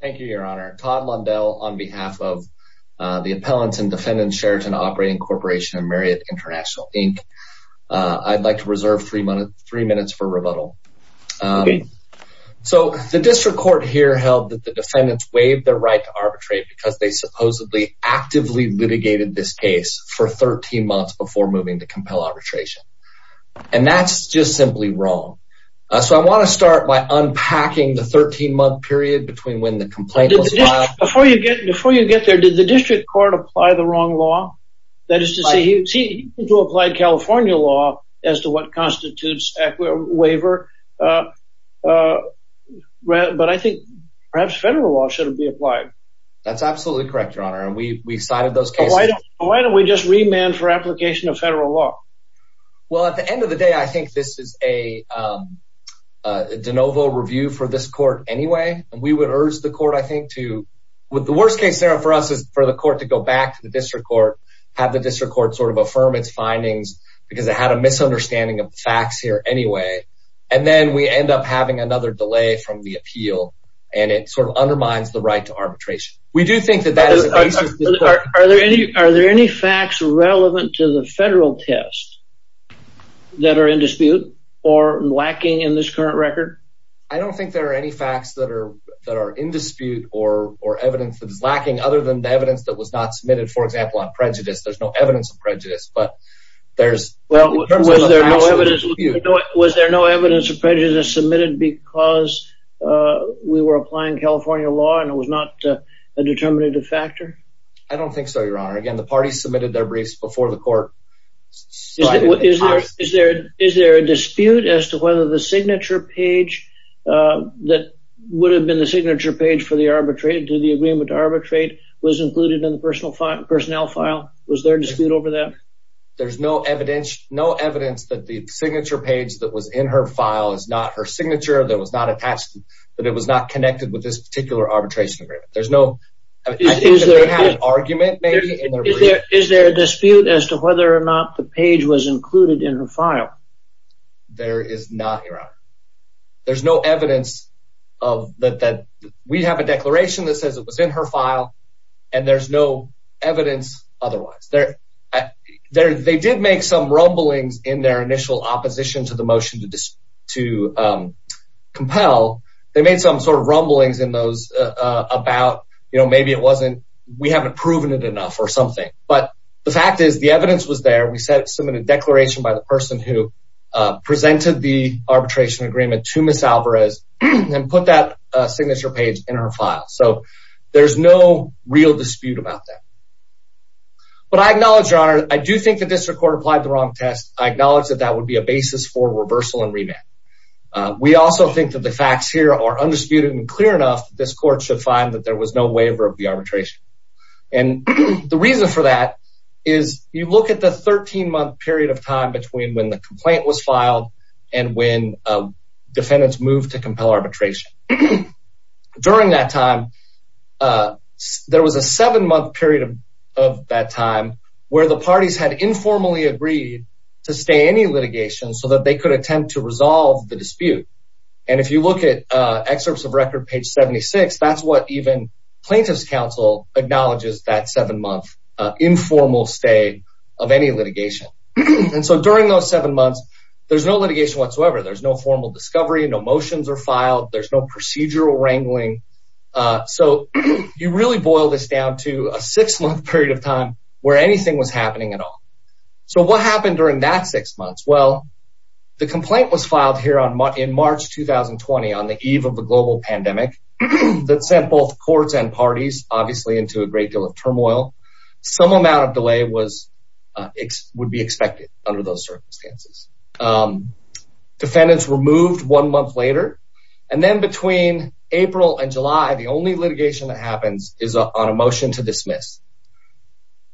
Thank you, Your Honor. Todd Mundell on behalf of the Appellants and Defendants, Sheraton Operating Corporation and Marriott International, Inc. I'd like to reserve three minutes for rebuttal. So the district court here held that the defendants waived their right to arbitrate because they supposedly actively litigated this case for 13 months before moving to compel arbitration. And that's just simply wrong. So I want to start by unpacking the 13-month period between when the complaint was filed... Before you get there, did the district court apply the wrong law? That is to say, he did apply California law as to what constitutes a waiver. But I think perhaps federal law should have been applied. That's absolutely correct, Your Honor. And we cited those cases. Why don't we just remand for application of federal law? Well, at the end of the day, I think this is a de novo review for this court anyway. And we would urge the court, I think, to... The worst case scenario for us is for the court to go back to the district court, have the district court sort of affirm its findings, because it had a misunderstanding of the facts here anyway. And then we end up having another delay from the appeal. And it sort of undermines the right to arbitration. We do think that that is... Are there any facts relevant to the federal test that are in dispute or lacking in this current record? I don't think there are any facts that are in dispute or evidence that is lacking other than the evidence that was not submitted, for example, on prejudice. There's no evidence of prejudice, but there's... Well, was there no evidence of prejudice submitted because we were applying California law and it was not a determinative factor? I don't think so, Your Honor. Again, the party submitted their briefs before the court. Is there a dispute as to whether the signature page that would have been the signature page for the arbitrate to the agreement to arbitrate was included in the personnel file? Was there a dispute over that? There's no evidence that the signature page that was in her file is not her signature, that was not attached, that it was not connected with this particular arbitration agreement. There's no... Is there a dispute as to whether or not the page was included in her file? There is not, Your Honor. There's no evidence that... We have a declaration that says it was in her file, and there's no evidence otherwise. They did make some rumblings in their initial opposition to the motion to compel. They made some sort of rumblings in those about, you know, maybe it wasn't... We haven't proven it enough or something. But the fact is the evidence was there. We submitted a declaration by the person who presented the arbitration agreement to Ms. Alvarez and put that signature page in her file. So there's no real dispute about that. But I acknowledge, Your Honor, I do think the district court applied the wrong test. I acknowledge that that would be a basis for reversal and remand. We also think that the facts here are undisputed and clear enough that this court should find that there was no waiver of the arbitration. And the reason for that is you look at the 13-month period of time between when the complaint was filed and when defendants moved to compel arbitration. During that time, there was a seven-month period of that time where the parties had informally agreed to stay any litigation so that they could attempt to resolve the dispute. And if you look at excerpts of record page 76, that's what even plaintiff's counsel acknowledges that seven-month informal stay of any litigation. And so during those seven months, there's no litigation whatsoever. There's no formal discovery. No motions are filed. There's no procedural wrangling. So you really boil this down to a six-month period of time where anything was dismissed. Well, the complaint was filed here in March 2020 on the eve of the global pandemic that sent both courts and parties, obviously, into a great deal of turmoil. Some amount of delay would be expected under those circumstances. Defendants were moved one month later. And then between April and July, the only litigation that happens is on a motion to dismiss.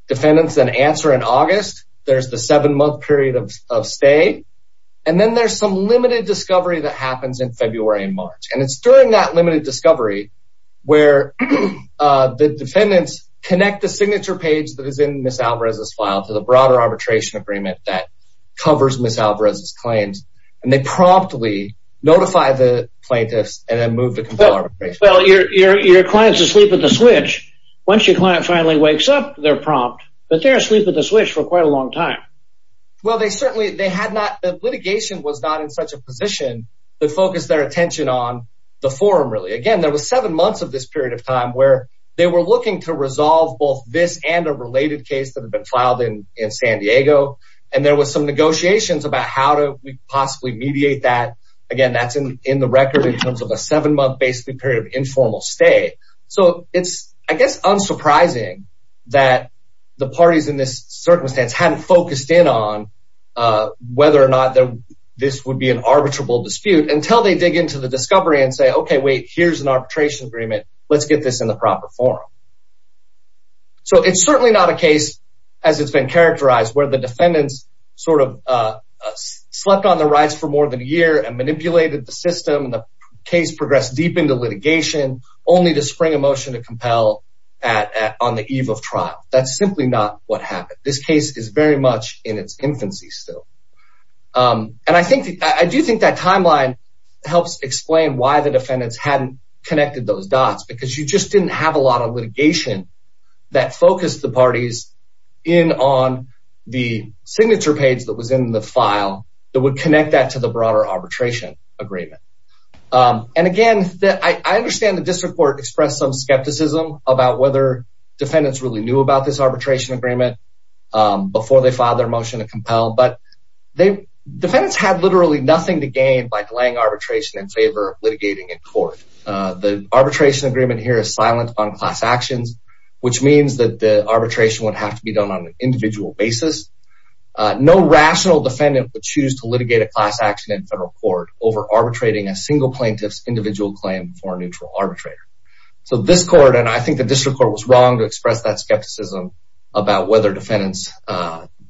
Defendants then answer in August. There's the seven-month period of stay. And then there's some limited discovery that happens in February and March. And it's during that limited discovery where the defendants connect the signature page that is in Ms. Alvarez's file to the broader arbitration agreement that covers Ms. Alvarez's claims. And they promptly notify the plaintiffs and then move to compel arbitration. Well, your client's asleep at the switch. Once your client finally wakes up, they're prompt. But they're asleep at the switch for quite a long time. Well, the litigation was not in such a position to focus their attention on the forum, really. Again, there was seven months of this period of time where they were looking to resolve both this and a related case that had been filed in San Diego. And there was some negotiations about how to possibly mediate that. Again, that's in the record in terms of a seven-month period of informal stay. So it's, I guess, unsurprising that the parties in this circumstance hadn't focused in on whether or not this would be an arbitrable dispute until they dig into the discovery and say, OK, wait, here's an arbitration agreement. Let's get this in the proper forum. So it's certainly not a case, as it's been characterized, where the defendants sort of slept on the rights for more than a year and manipulated the system. And the case progressed deep into litigation, only to spring a motion to compel on the eve of trial. That's simply not what happened. This case is very much in its infancy still. And I do think that timeline helps explain why the defendants hadn't connected those dots. Because you just didn't have a lot of litigation that focused the broader arbitration agreement. And again, I understand the district court expressed some skepticism about whether defendants really knew about this arbitration agreement before they filed their motion to compel. But defendants had literally nothing to gain by delaying arbitration in favor of litigating in court. The arbitration agreement here is silent on class actions, which means that the arbitration would have to be done on an individual basis. No rational defendant would choose to litigate a class action in federal court over arbitrating a single plaintiff's individual claim for a neutral arbitrator. So this court, and I think the district court, was wrong to express that skepticism about whether defendants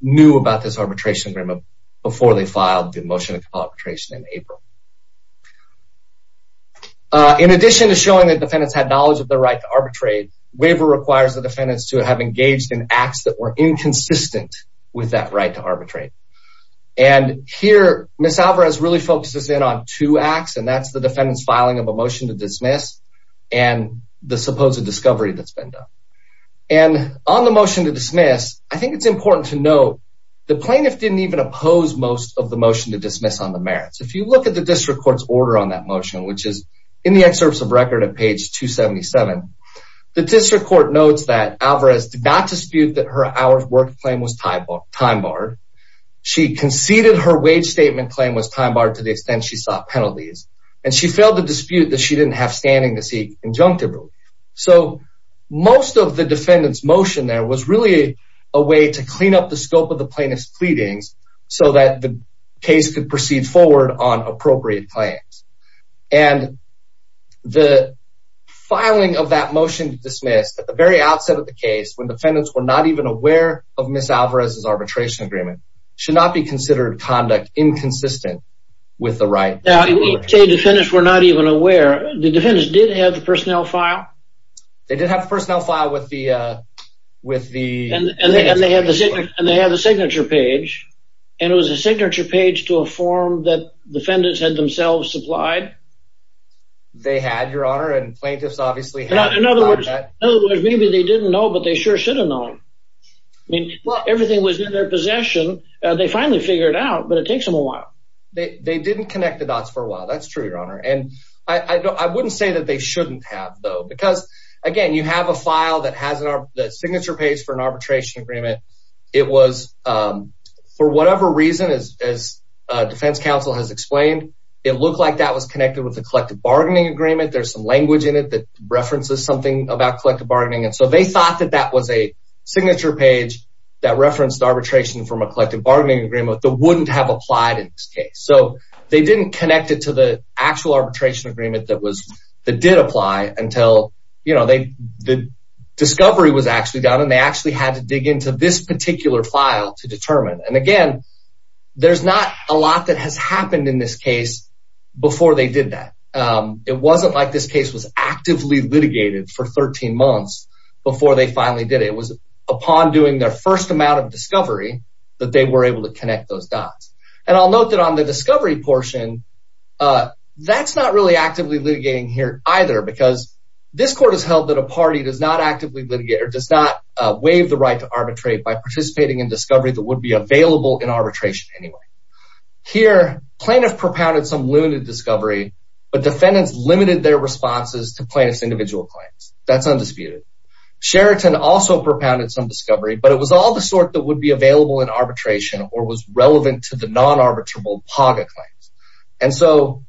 knew about this arbitration agreement before they filed the motion to compel arbitration in April. In addition to showing that defendants had knowledge of their right to arbitrate, waiver requires the defendants to have engaged in acts that were inconsistent with that right to arbitrate. And here, Ms. Alvarez really focuses in on two acts, and that's the defendant's filing of a motion to dismiss and the supposed discovery that's been done. And on the motion to dismiss, I think it's important to note the plaintiff didn't even oppose most of the motion to dismiss on the merits. If you look at the district court's order on that the district court notes that Alvarez did not dispute that her hours worked claim was time barred. She conceded her wage statement claim was time barred to the extent she sought penalties, and she failed the dispute that she didn't have standing to seek injunctively. So most of the defendant's motion there was really a way to clean up the scope of the plaintiff's pleadings so that the case could proceed forward on appropriate claims. And the filing of that motion to dismiss at the very outset of the case when defendants were not even aware of Ms. Alvarez's arbitration agreement should not be considered conduct inconsistent with the right. Now you say defendants were not even aware. The defendants did have the personnel file? They did have the personnel file with the with the... And they had the signature page, and it was a signature page to a form that defendants had themselves supplied? They had, your honor, and plaintiffs obviously had. In other words, maybe they didn't know, but they sure should have known. I mean, everything was in their possession. They finally figured it out, but it takes them a while. They didn't connect the dots for a while. That's again, you have a file that has a signature page for an arbitration agreement. It was, for whatever reason, as defense counsel has explained, it looked like that was connected with the collective bargaining agreement. There's some language in it that references something about collective bargaining. And so they thought that that was a signature page that referenced arbitration from a collective bargaining agreement that wouldn't have applied in this case. So they didn't connect it to the actual arbitration agreement that did apply until, you know, the discovery was actually done, and they actually had to dig into this particular file to determine. And again, there's not a lot that has happened in this case before they did that. It wasn't like this case was actively litigated for 13 months before they finally did it. It was upon doing their first amount of discovery that they were able to connect those dots. And I'll note that the discovery portion, that's not really actively litigating here either, because this court has held that a party does not actively litigate or does not waive the right to arbitrate by participating in discovery that would be available in arbitration anyway. Here, plaintiff propounded some limited discovery, but defendants limited their responses to plaintiff's individual claims. That's undisputed. Sheraton also propounded some discovery, but it was all the sort that would be available in arbitration or was relevant to the non-arbitrable PAGA claims. And so,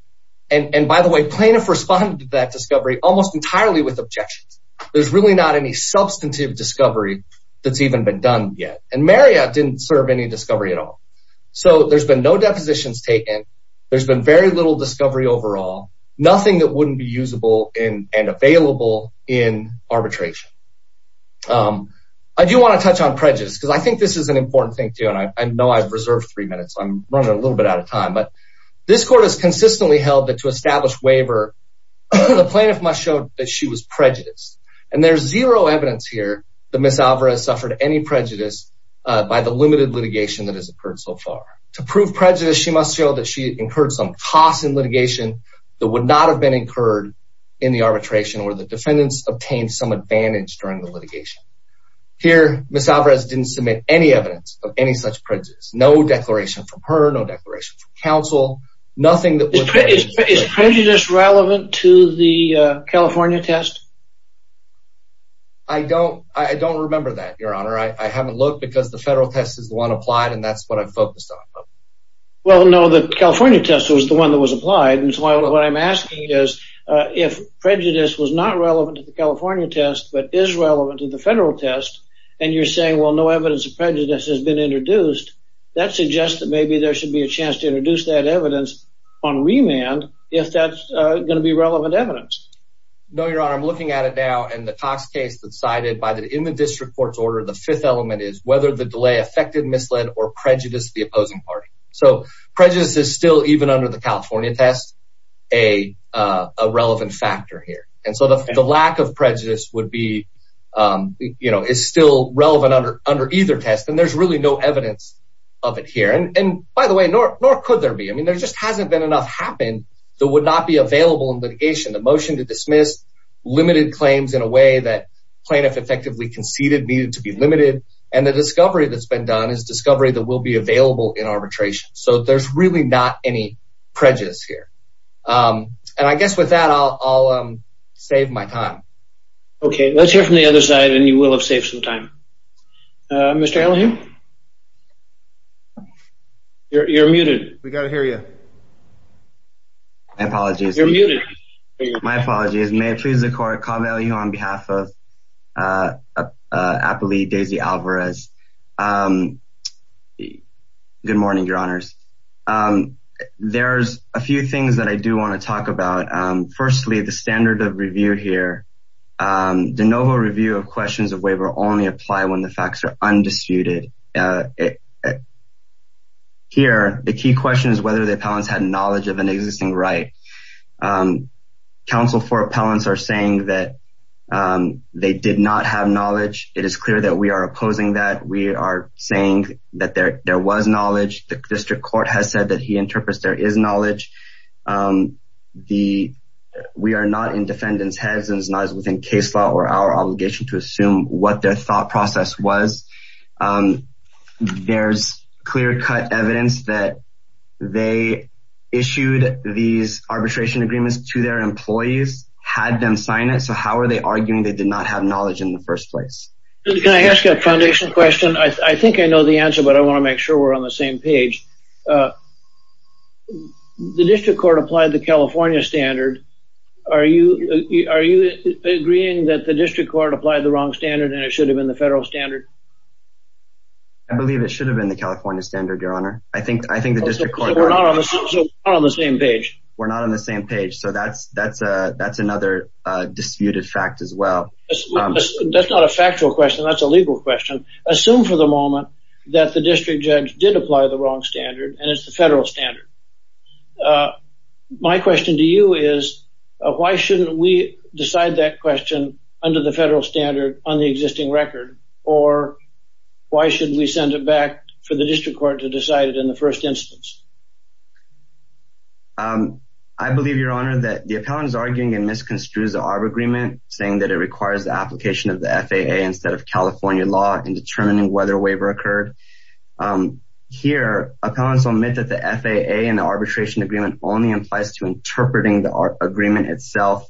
and by the way, plaintiff responded to that discovery almost entirely with objections. There's really not any substantive discovery that's even been done yet. And Marriott didn't serve any discovery at all. So there's been no depositions taken. There's been very little discovery overall, nothing that wouldn't be usable and available in arbitration. I do want to touch on prejudice because I think this is an important thing too. And I know I've reserved three minutes. I'm running a little bit out of time, but this court has consistently held that to establish waiver, the plaintiff must show that she was prejudiced. And there's zero evidence here that Ms. Alvarez suffered any prejudice by the limited litigation that has occurred so far. To prove prejudice, she must show that she incurred some costs in litigation that would not have been incurred in the arbitration or the defendants obtained some advantage during the litigation. Here, Ms. Alvarez didn't submit any evidence of any such prejudice. No declaration from her, no declaration from counsel, nothing that would... Is prejudice relevant to the California test? I don't remember that, Your Honor. I haven't looked because the federal test is the one applied and that's what I've focused on. Well, no, the California test was the one that was applied. And so what I'm asking is, if prejudice was not relevant to the California test, but is relevant to the federal test, and you're saying, well, no evidence of prejudice has been introduced, that suggests that maybe there should be a chance to introduce that evidence on remand, if that's going to be relevant evidence. No, Your Honor. I'm looking at it now and the Cox case that's cited by the... In the district court's order, the fifth element is whether the delay affected, misled or prejudiced the opposing party. So prejudice is still even under the California test, a relevant factor here. And so the lack of prejudice would be... You know, it's still relevant under either test and there's really no evidence of it here. And by the way, nor could there be. I mean, there just hasn't been enough happened that would not be available in litigation. The motion to dismiss limited claims in a way that plaintiff effectively conceded needed to be limited. And the discovery that's been done is a discovery that will be available in arbitration. So there's really not any prejudice here. And I guess with that, I'll save my time. Okay. Let's hear from the other side and you will have saved some time. Mr. Ellingham? You're muted. We got to hear you. My apologies. You're muted. My apologies. May I please call on behalf of Appali Daisy Alvarez? Good morning, your honors. There's a few things that I do want to talk about. Firstly, the standard of review here, de novo review of questions of waiver only apply when the facts are undisputed. Here, the key question is whether the appellants had knowledge of an existing right. Counsel for appellants are saying that they did not have knowledge. It is clear that we are opposing that. We are saying that there was knowledge. The district court has said that he interprets there is knowledge. We are not in defendant's heads and it's not within case law or our obligation to assume what their thought process was. There's clear cut evidence that they issued these arbitration agreements to their employees, had them sign it. How are they arguing they did not have knowledge in the first place? Can I ask a foundation question? I think I know the answer, but I want to make sure we're on the same page. The district court applied the California standard. Are you agreeing that the district court applied the wrong standard and it should have been the federal standard? I believe it should have been the California standard. We're not on the same page. That's another disputed fact as well. That's not a factual question. That's a legal question. Assume for the moment that the district judge did apply the wrong standard and it's the federal standard. My question to you is, why shouldn't we decide that question under the federal standard on the first instance? I believe, your honor, that the appellant is arguing and misconstrues the ARB agreement saying that it requires the application of the FAA instead of California law in determining whether a waiver occurred. Here, appellants omit that the FAA and the arbitration agreement only implies to interpreting the agreement itself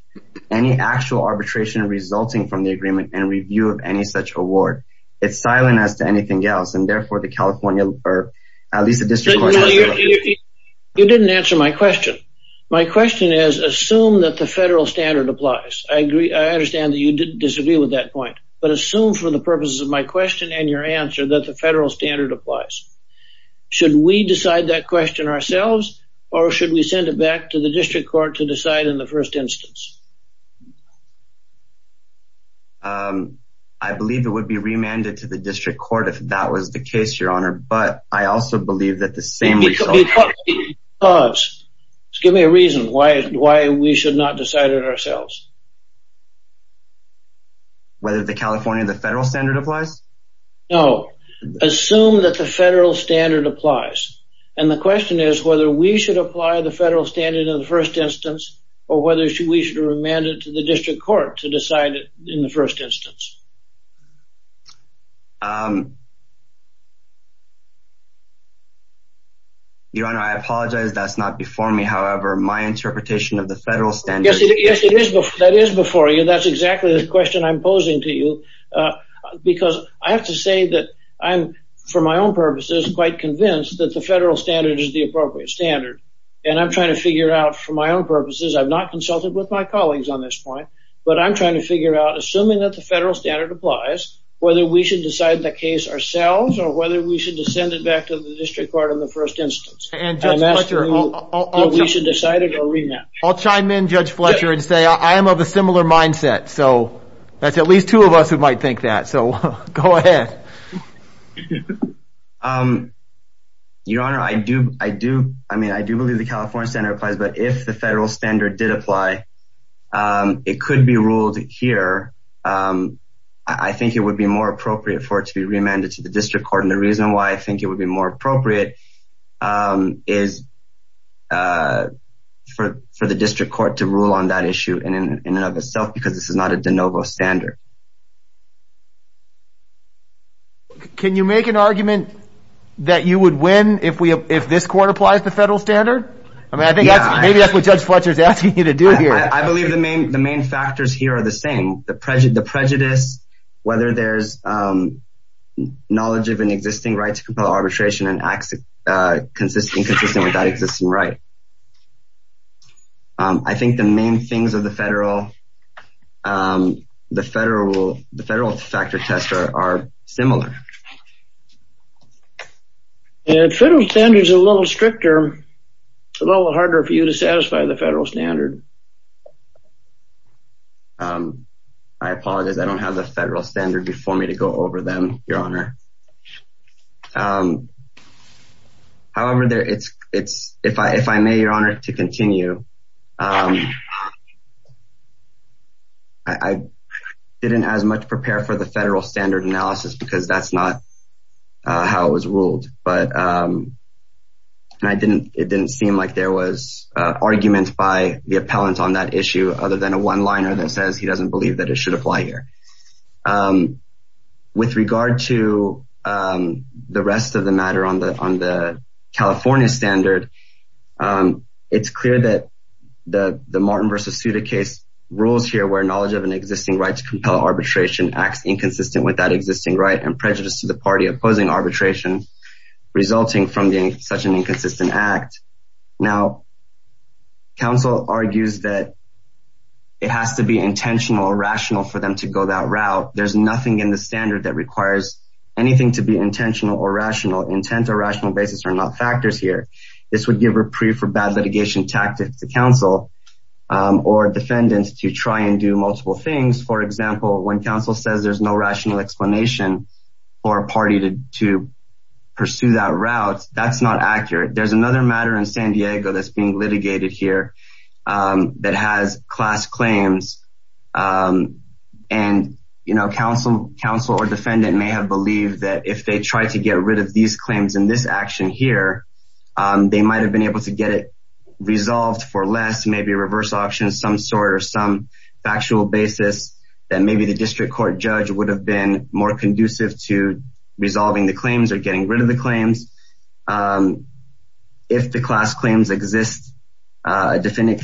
any actual arbitration resulting from the agreement and review of any such award. It's silent as to anything else and therefore the California or at least the district court... You didn't answer my question. My question is, assume that the federal standard applies. I understand that you didn't disagree with that point, but assume for the purposes of my question and your answer that the federal standard applies. Should we decide that question ourselves or should we send it back to the district court to decide in the first instance? I believe it would be remanded to the district court if that was the case, your honor, but I also believe that the same result... Give me a reason why we should not decide it ourselves. Whether the California and the federal standard applies? No, assume that the federal standard applies and the question is whether we should apply the federal standard in the first instance or whether we should remand it to the district court to decide it in the first instance. Your honor, I apologize. That's not before me. However, my interpretation of the federal standard... Yes, it is. That is before you. That's exactly the question I'm posing to you because I have to say that I'm, for my own purposes, quite convinced that the federal standard is the appropriate standard and I'm trying to figure out for my own purposes. I've not consulted with my colleagues on this point, but I'm trying to figure out, assuming that the applies, whether we should decide the case ourselves or whether we should send it back to the district court in the first instance. I'll chime in, Judge Fletcher, and say I am of a similar mindset, so that's at least two of us who might think that, so go ahead. Your honor, I do believe the California standard applies, but if the federal standard did apply, it could be ruled here. I think it would be more appropriate for it to be remanded to the district court, and the reason why I think it would be more appropriate is for the district court to rule on that issue in and of itself because this is not a de novo standard. Can you make an argument that you would win if this court applies the federal standard? I mean, I think maybe that's what Judge Fletcher is asking you to do here. I believe the main factors here are the same. The prejudice, whether there's knowledge of an existing right to compel arbitration and acts inconsistent with that existing right. I think the main things of the federal factor test are similar. And federal standards are a little stricter, a little harder for you to satisfy the federal standard. I apologize. I don't have the federal standard before me to go over them, your honor. However, if I may, your honor, to continue, I didn't as much prepare for the federal standard analysis because that's not how it was ruled. It didn't seem like there was argument by the appellant on that issue other than a one-liner that says he doesn't believe that it should apply here. With regard to the rest of the matter on the California standard, it's clear that the Martin v. Suda case rules here where knowledge of an existing right to the party opposing arbitration resulting from such an inconsistent act. Now, counsel argues that it has to be intentional or rational for them to go that route. There's nothing in the standard that requires anything to be intentional or rational. Intent or rational basis are not factors here. This would give reprieve for bad litigation tactics to counsel or defendants to try and do multiple things. For example, when counsel says there's no rational explanation for a party to pursue that route, that's not accurate. There's another matter in San Diego that's being litigated here that has class claims, and counsel or defendant may have believed that if they tried to get rid of these claims in this action here, they might have been able to get it resolved for less, maybe a reverse auction of some sort or some factual basis that maybe the district court judge would have been more conducive to resolving the claims or getting rid of the claims. If the class claims exist, a defendant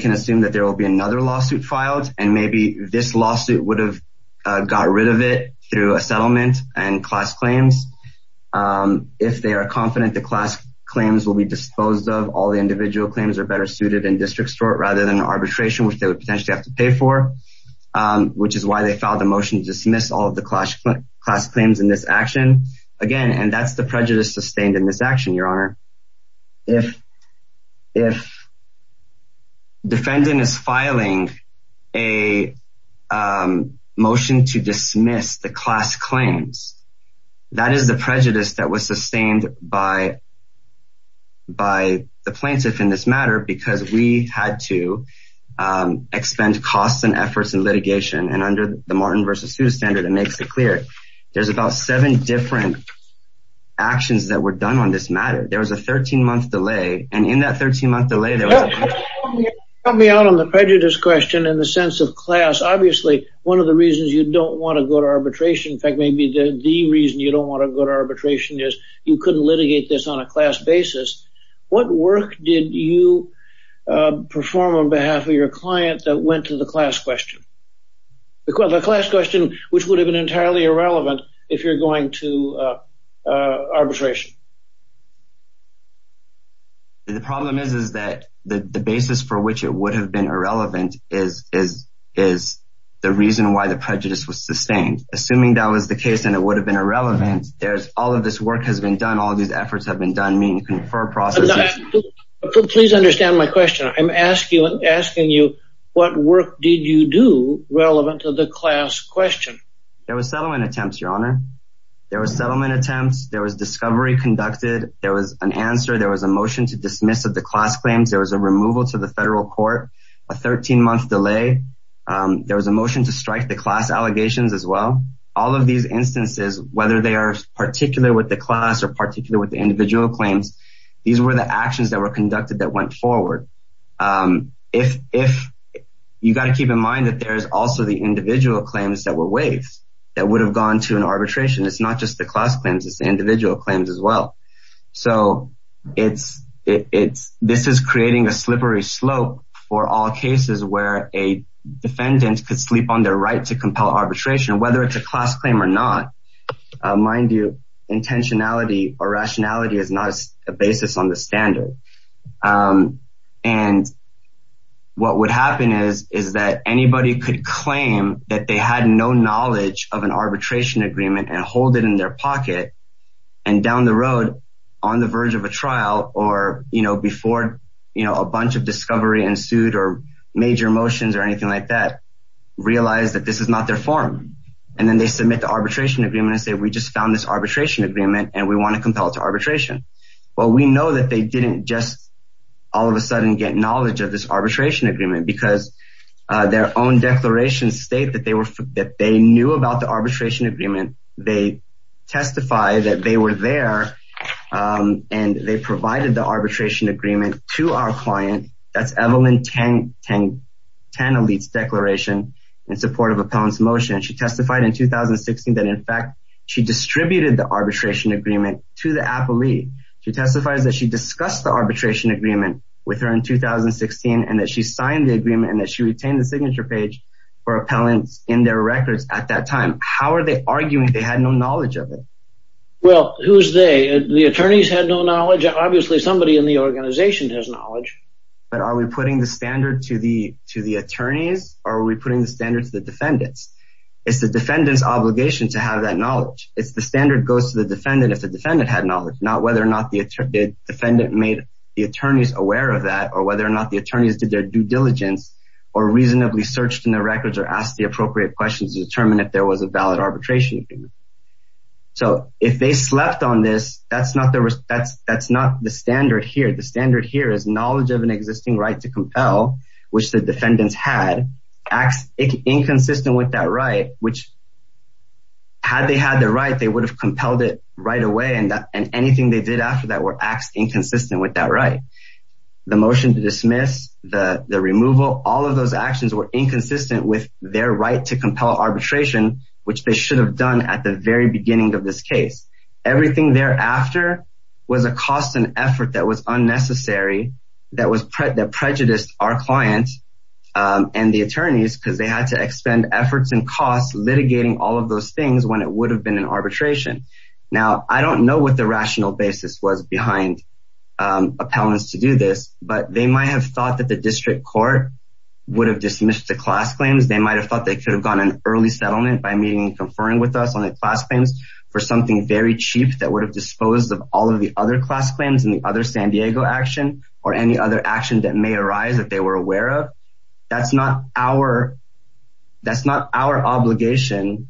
can assume that there will be another lawsuit filed, and maybe this lawsuit would have got rid of it through a settlement and class claims. If they are confident the class claims will be disposed of, all the individual claims are better suited in district court rather than arbitration, which they would potentially have to file the motion to dismiss all of the class claims in this action. Again, and that's the prejudice sustained in this action, Your Honor. If defendant is filing a motion to dismiss the class claims, that is the prejudice that was sustained by the plaintiff in this matter because we had to expend costs and efforts in litigation, and under the Martin v. Seuss standard, it makes it clear there's about seven different actions that were done on this matter. There was a 13-month delay, and in that 13-month delay, there was... Help me out on the prejudice question in the sense of class. Obviously, one of the reasons you don't want to go to arbitration, in fact, maybe the reason you don't want to go to arbitration is you couldn't litigate this on a class basis. What work did you perform on behalf of your client that went to the class question? The class question, which would have been entirely irrelevant if you're going to arbitration. The problem is that the basis for which it would have been irrelevant is the reason why the prejudice was sustained. Assuming that was the case and it would have been irrelevant, there's all of this work has been done, all these efforts have been done, meaning confer processes. Please understand my question. I'm asking you, what work did you do relevant to the class question? There was settlement attempts, Your Honor. There was settlement attempts, there was discovery conducted, there was an answer, there was a motion to dismiss of the class claims, there was a removal to the federal court, a 13-month delay, there was a motion to strike the class allegations as well. All of these instances, whether they are particular with the class or particular with the individual claims, these were the actions that were conducted that went forward. You've got to keep in mind that there's also the individual claims that were waived that would have gone to an arbitration. It's not just the class claims, it's the individual claims as well. This is creating a slippery slope for all cases where a defendant could sleep on their right to compel arbitration, whether it's a class claim or not. Mind you, intentionality or rationality is not a basis on the standard. What would happen is that anybody could claim that they had no knowledge of an arbitration agreement and hold it in their pocket. Down the road, on the verge of a trial or before a bunch of discovery ensued or major motions or anything like that, realize that this is not their form. Then they submit the arbitration agreement and say, we just found this arbitration agreement and we want to compel it to arbitration. We know that they didn't just all of a sudden get knowledge of this arbitration agreement because their own declarations state that they knew about the arbitration agreement. They testified that they were there and they provided the arbitration agreement to our client. That's Evelyn Tanaleat's declaration in support of Appellant's motion. She testified in 2016 that in fact she distributed the arbitration agreement to the appellee. She testifies that she discussed the arbitration agreement with her in 2016 and that she signed the agreement and that she retained the signature page for Appellant's in their records at that time. How are they arguing they had no knowledge of it? Well, who's they? The attorneys had no organization has knowledge. But are we putting the standard to the attorneys or are we putting the standard to the defendants? It's the defendant's obligation to have that knowledge. It's the standard goes to the defendant if the defendant had knowledge, not whether or not the defendant made the attorneys aware of that or whether or not the attorneys did their due diligence or reasonably searched in their records or asked the appropriate questions to determine if there was a valid arbitration agreement. So, if they slept on this, that's not the standard here. The standard here is knowledge of an existing right to compel, which the defendants had, acts inconsistent with that right, which had they had the right, they would have compelled it right away and anything they did after that were acts inconsistent with that right. The motion to dismiss, the removal, all of those actions were inconsistent with their right to compel arbitration, which they should have done at the very beginning of this case. Everything thereafter was a cost and effort that was unnecessary, that prejudiced our client and the attorneys because they had to expend efforts and costs litigating all of those things when it would have been an arbitration. Now, I don't know what the rational basis was behind appellants to do this, but they might have thought that the district court would have dismissed the class claims. They might have thought they could have gotten an early settlement by meeting and cheap that would have disposed of all of the other class claims and the other San Diego action or any other action that may arise that they were aware of. That's not our obligation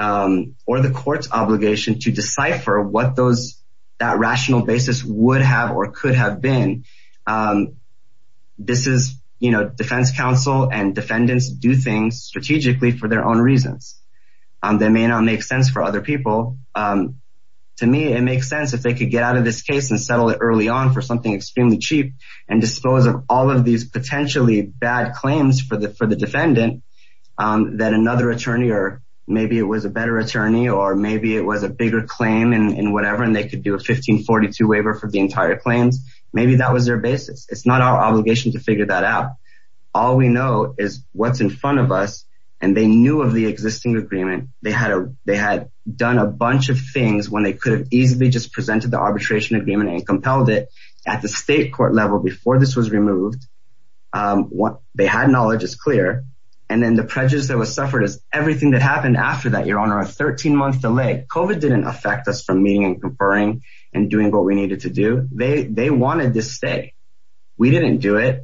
or the court's obligation to decipher what that rational basis would have or could have been. This is, you know, defense counsel and defendants do things strategically for their own reasons. They may not make sense for other people. To me, it makes sense if they could get out of this case and settle it early on for something extremely cheap and dispose of all of these potentially bad claims for the defendant that another attorney or maybe it was a better attorney or maybe it was a bigger claim and whatever and they could do a 1542 waiver for the entire claims. Maybe that was their basis. It's not our obligation to figure that out. All we know is what's in front of us and they knew of the existing agreement. They had done a bunch of things when they could have easily just presented the arbitration agreement and compelled it at the state court level before this was removed. What they had knowledge is clear and then the prejudice that was suffered is everything that happened after that your honor a 13-month delay. COVID didn't affect us from meeting and conferring and doing what we needed to do. They wanted to stay. We didn't do it.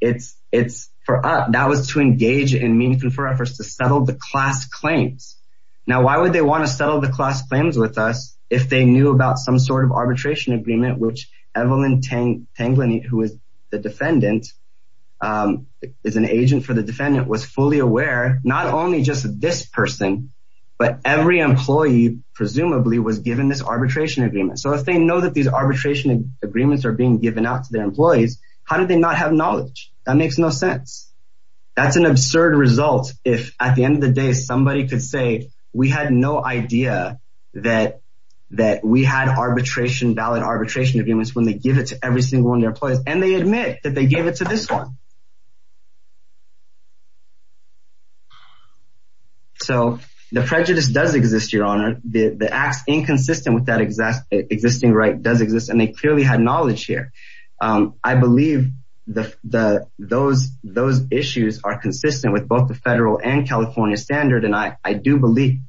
It's for us. That was to engage in meaningful for us to settle the class claims. Now, why would they want to settle the class claims with us if they knew about some sort of arbitration agreement which Evelyn Tanglin, who is the defendant, is an agent for the defendant was fully aware not only just this person but every employee presumably was given this arbitration agreement. If they know that these arbitration agreements are being given out to their employees, how did they not have knowledge? That makes no sense. That's an absurd result if at the end of the day somebody could say we had no idea that that we had arbitration valid arbitration agreements when they give it to every single one of their employees and they admit that they gave it to this one. So, the prejudice does exist your honor. The acts inconsistent with that exact existing right does exist and they clearly had knowledge here. I believe those issues are consistent with both the federal and California standard and I do believe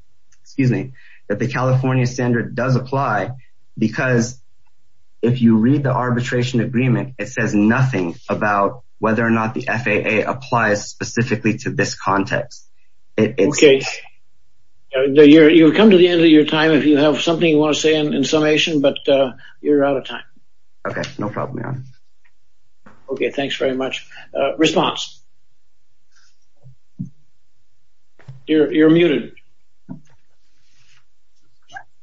that the California standard does apply because if you read the arbitration agreement, it says nothing about whether or not the FAA applies specifically to this context. You've come to the end of your time. If you have something you want to say in summation, but you're out of time. Okay, no problem, your honor. Okay, thanks very much. Response. You're muted.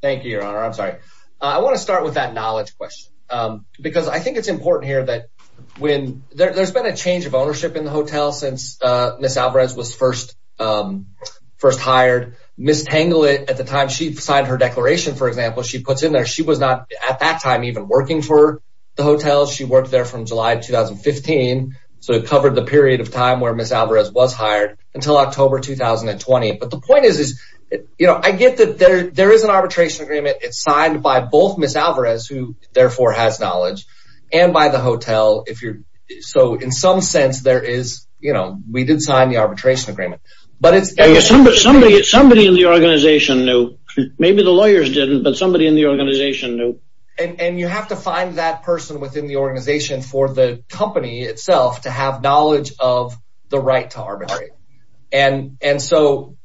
Thank you, your honor. I'm sorry. I want to start with that knowledge question because I think it's important here that when there's been a change of ownership in the hotel since Miss Alvarez was first hired. Miss Tangle it at the time she signed her she was not at that time even working for the hotel. She worked there from July 2015. So, it covered the period of time where Miss Alvarez was hired until October 2020, but the point is I get that there is an arbitration agreement. It's signed by both Miss Alvarez who therefore has knowledge and by the hotel. So, in some sense, we did sign the arbitration agreement. Somebody in the organization knew, maybe the organization knew. And you have to find that person within the organization for the company itself to have knowledge of the right to arbitrate. And so,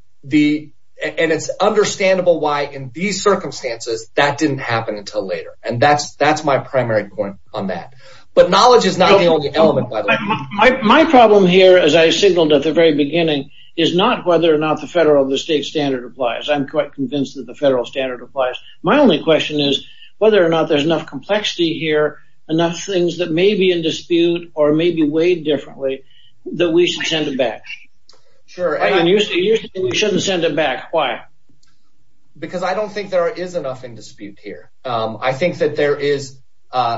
it's understandable why in these circumstances that didn't happen until later. And that's my primary point on that. But knowledge is not the only element. My problem here, as I signaled at the very beginning, is not whether or not the federal or the state standard applies. I'm quite convinced that the question is whether or not there's enough complexity here, enough things that may be in dispute or may be weighed differently, that we should send it back. Sure. And you say we shouldn't send it back. Why? Because I don't think there is enough in dispute here. I think that there is,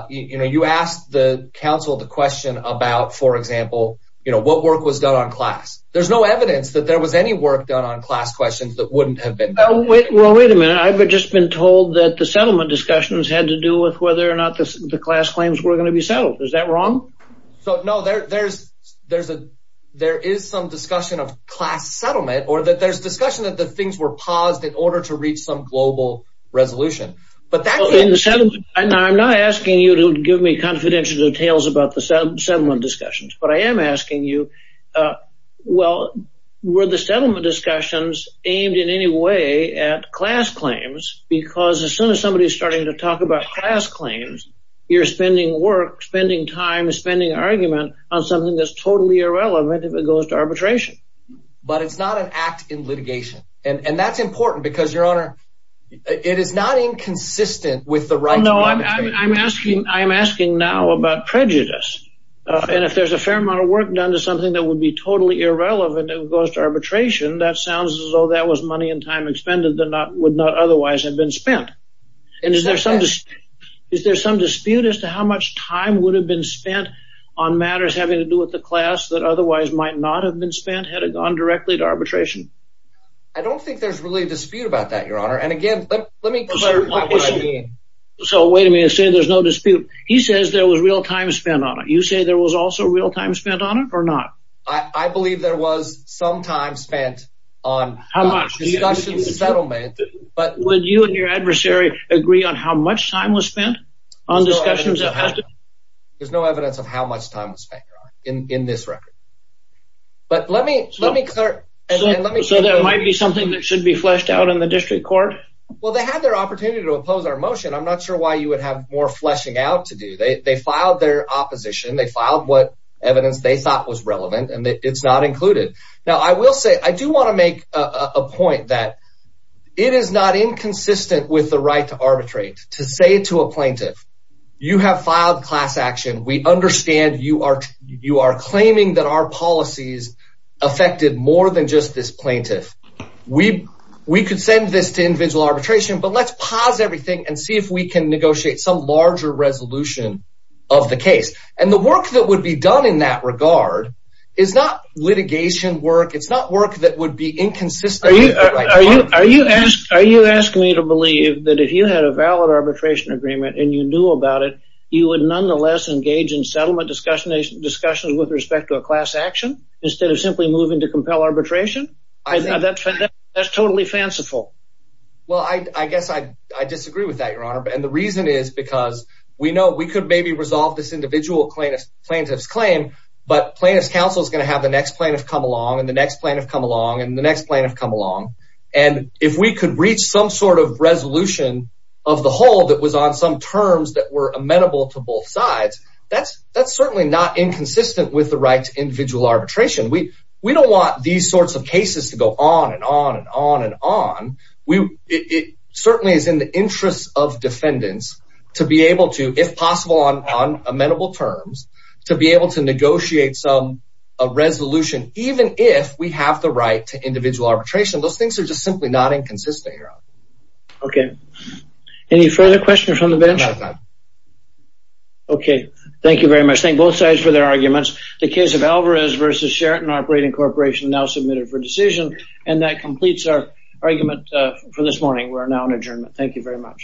you know, you asked the council the question about, for example, you know, what work was done on class. There's no evidence that there was any work done on class questions that wouldn't have Well, wait a minute. I've just been told that the settlement discussions had to do with whether or not the class claims were going to be settled. Is that wrong? So, no, there is some discussion of class settlement or that there's discussion that the things were paused in order to reach some global resolution. But that can't be settled. And I'm not asking you to give me confidential details about the settlement discussions. But I am asking you, well, were the settlement discussions aimed in any way at class claims? Because as soon as somebody is starting to talk about class claims, you're spending work, spending time, spending argument on something that's totally irrelevant if it goes to arbitration. But it's not an act in litigation. And that's important because your honor, it is not inconsistent with the right. No, I'm asking. I'm asking now about prejudice. And if there's a fair amount of work done to something that would be totally irrelevant if it goes to arbitration, that sounds as though that was money and time expended that would not otherwise have been spent. And is there some dispute as to how much time would have been spent on matters having to do with the class that otherwise might not have been spent had it gone directly to arbitration? I don't think there's really a dispute about that, your honor. And again, let me clear what I mean. So wait a minute, say there's no dispute. He says there was real time on it or not. I believe there was some time spent on how much settlement. But would you and your adversary agree on how much time was spent on discussions? There's no evidence of how much time was spent in this record. But let me let me clear. So there might be something that should be fleshed out in the district court. Well, they had their opportunity to oppose our motion. I'm not sure why you would have more fleshing out to do. They filed their opposition. They filed what they thought was relevant and it's not included. Now, I will say I do want to make a point that it is not inconsistent with the right to arbitrate to say to a plaintiff, you have filed class action. We understand you are you are claiming that our policies affected more than just this plaintiff. We we could send this to individual arbitration, but let's pause everything and see if can negotiate some larger resolution of the case. And the work that would be done in that regard is not litigation work. It's not work that would be inconsistent. Are you asking me to believe that if you had a valid arbitration agreement and you knew about it, you would nonetheless engage in settlement discussions with respect to a class action instead of simply moving to compel arbitration? That's totally fanciful. Well, I guess I disagree with that, your honor. And the reason is because we know we could maybe resolve this individual plaintiff's claim, but plaintiff's counsel is going to have the next plaintiff come along and the next plaintiff come along and the next plaintiff come along. And if we could reach some sort of resolution of the whole that was on some terms that were amenable to both sides, that's that's certainly not inconsistent with the right to individual arbitration. We we don't want these sorts of cases to go on and on and on and on. We it certainly is in the interest of defendants to be able to, if possible, on amenable terms to be able to negotiate some resolution, even if we have the right to individual arbitration. Those things are just simply not inconsistent, your honor. Okay. Any further questions from the bench? Okay. Thank you very much. Thank both sides for their arguments. The case of Alvarez versus Sheraton Operating Corporation now submitted for decision and that completes our argument for this morning. We are now in adjournment. Thank you very much.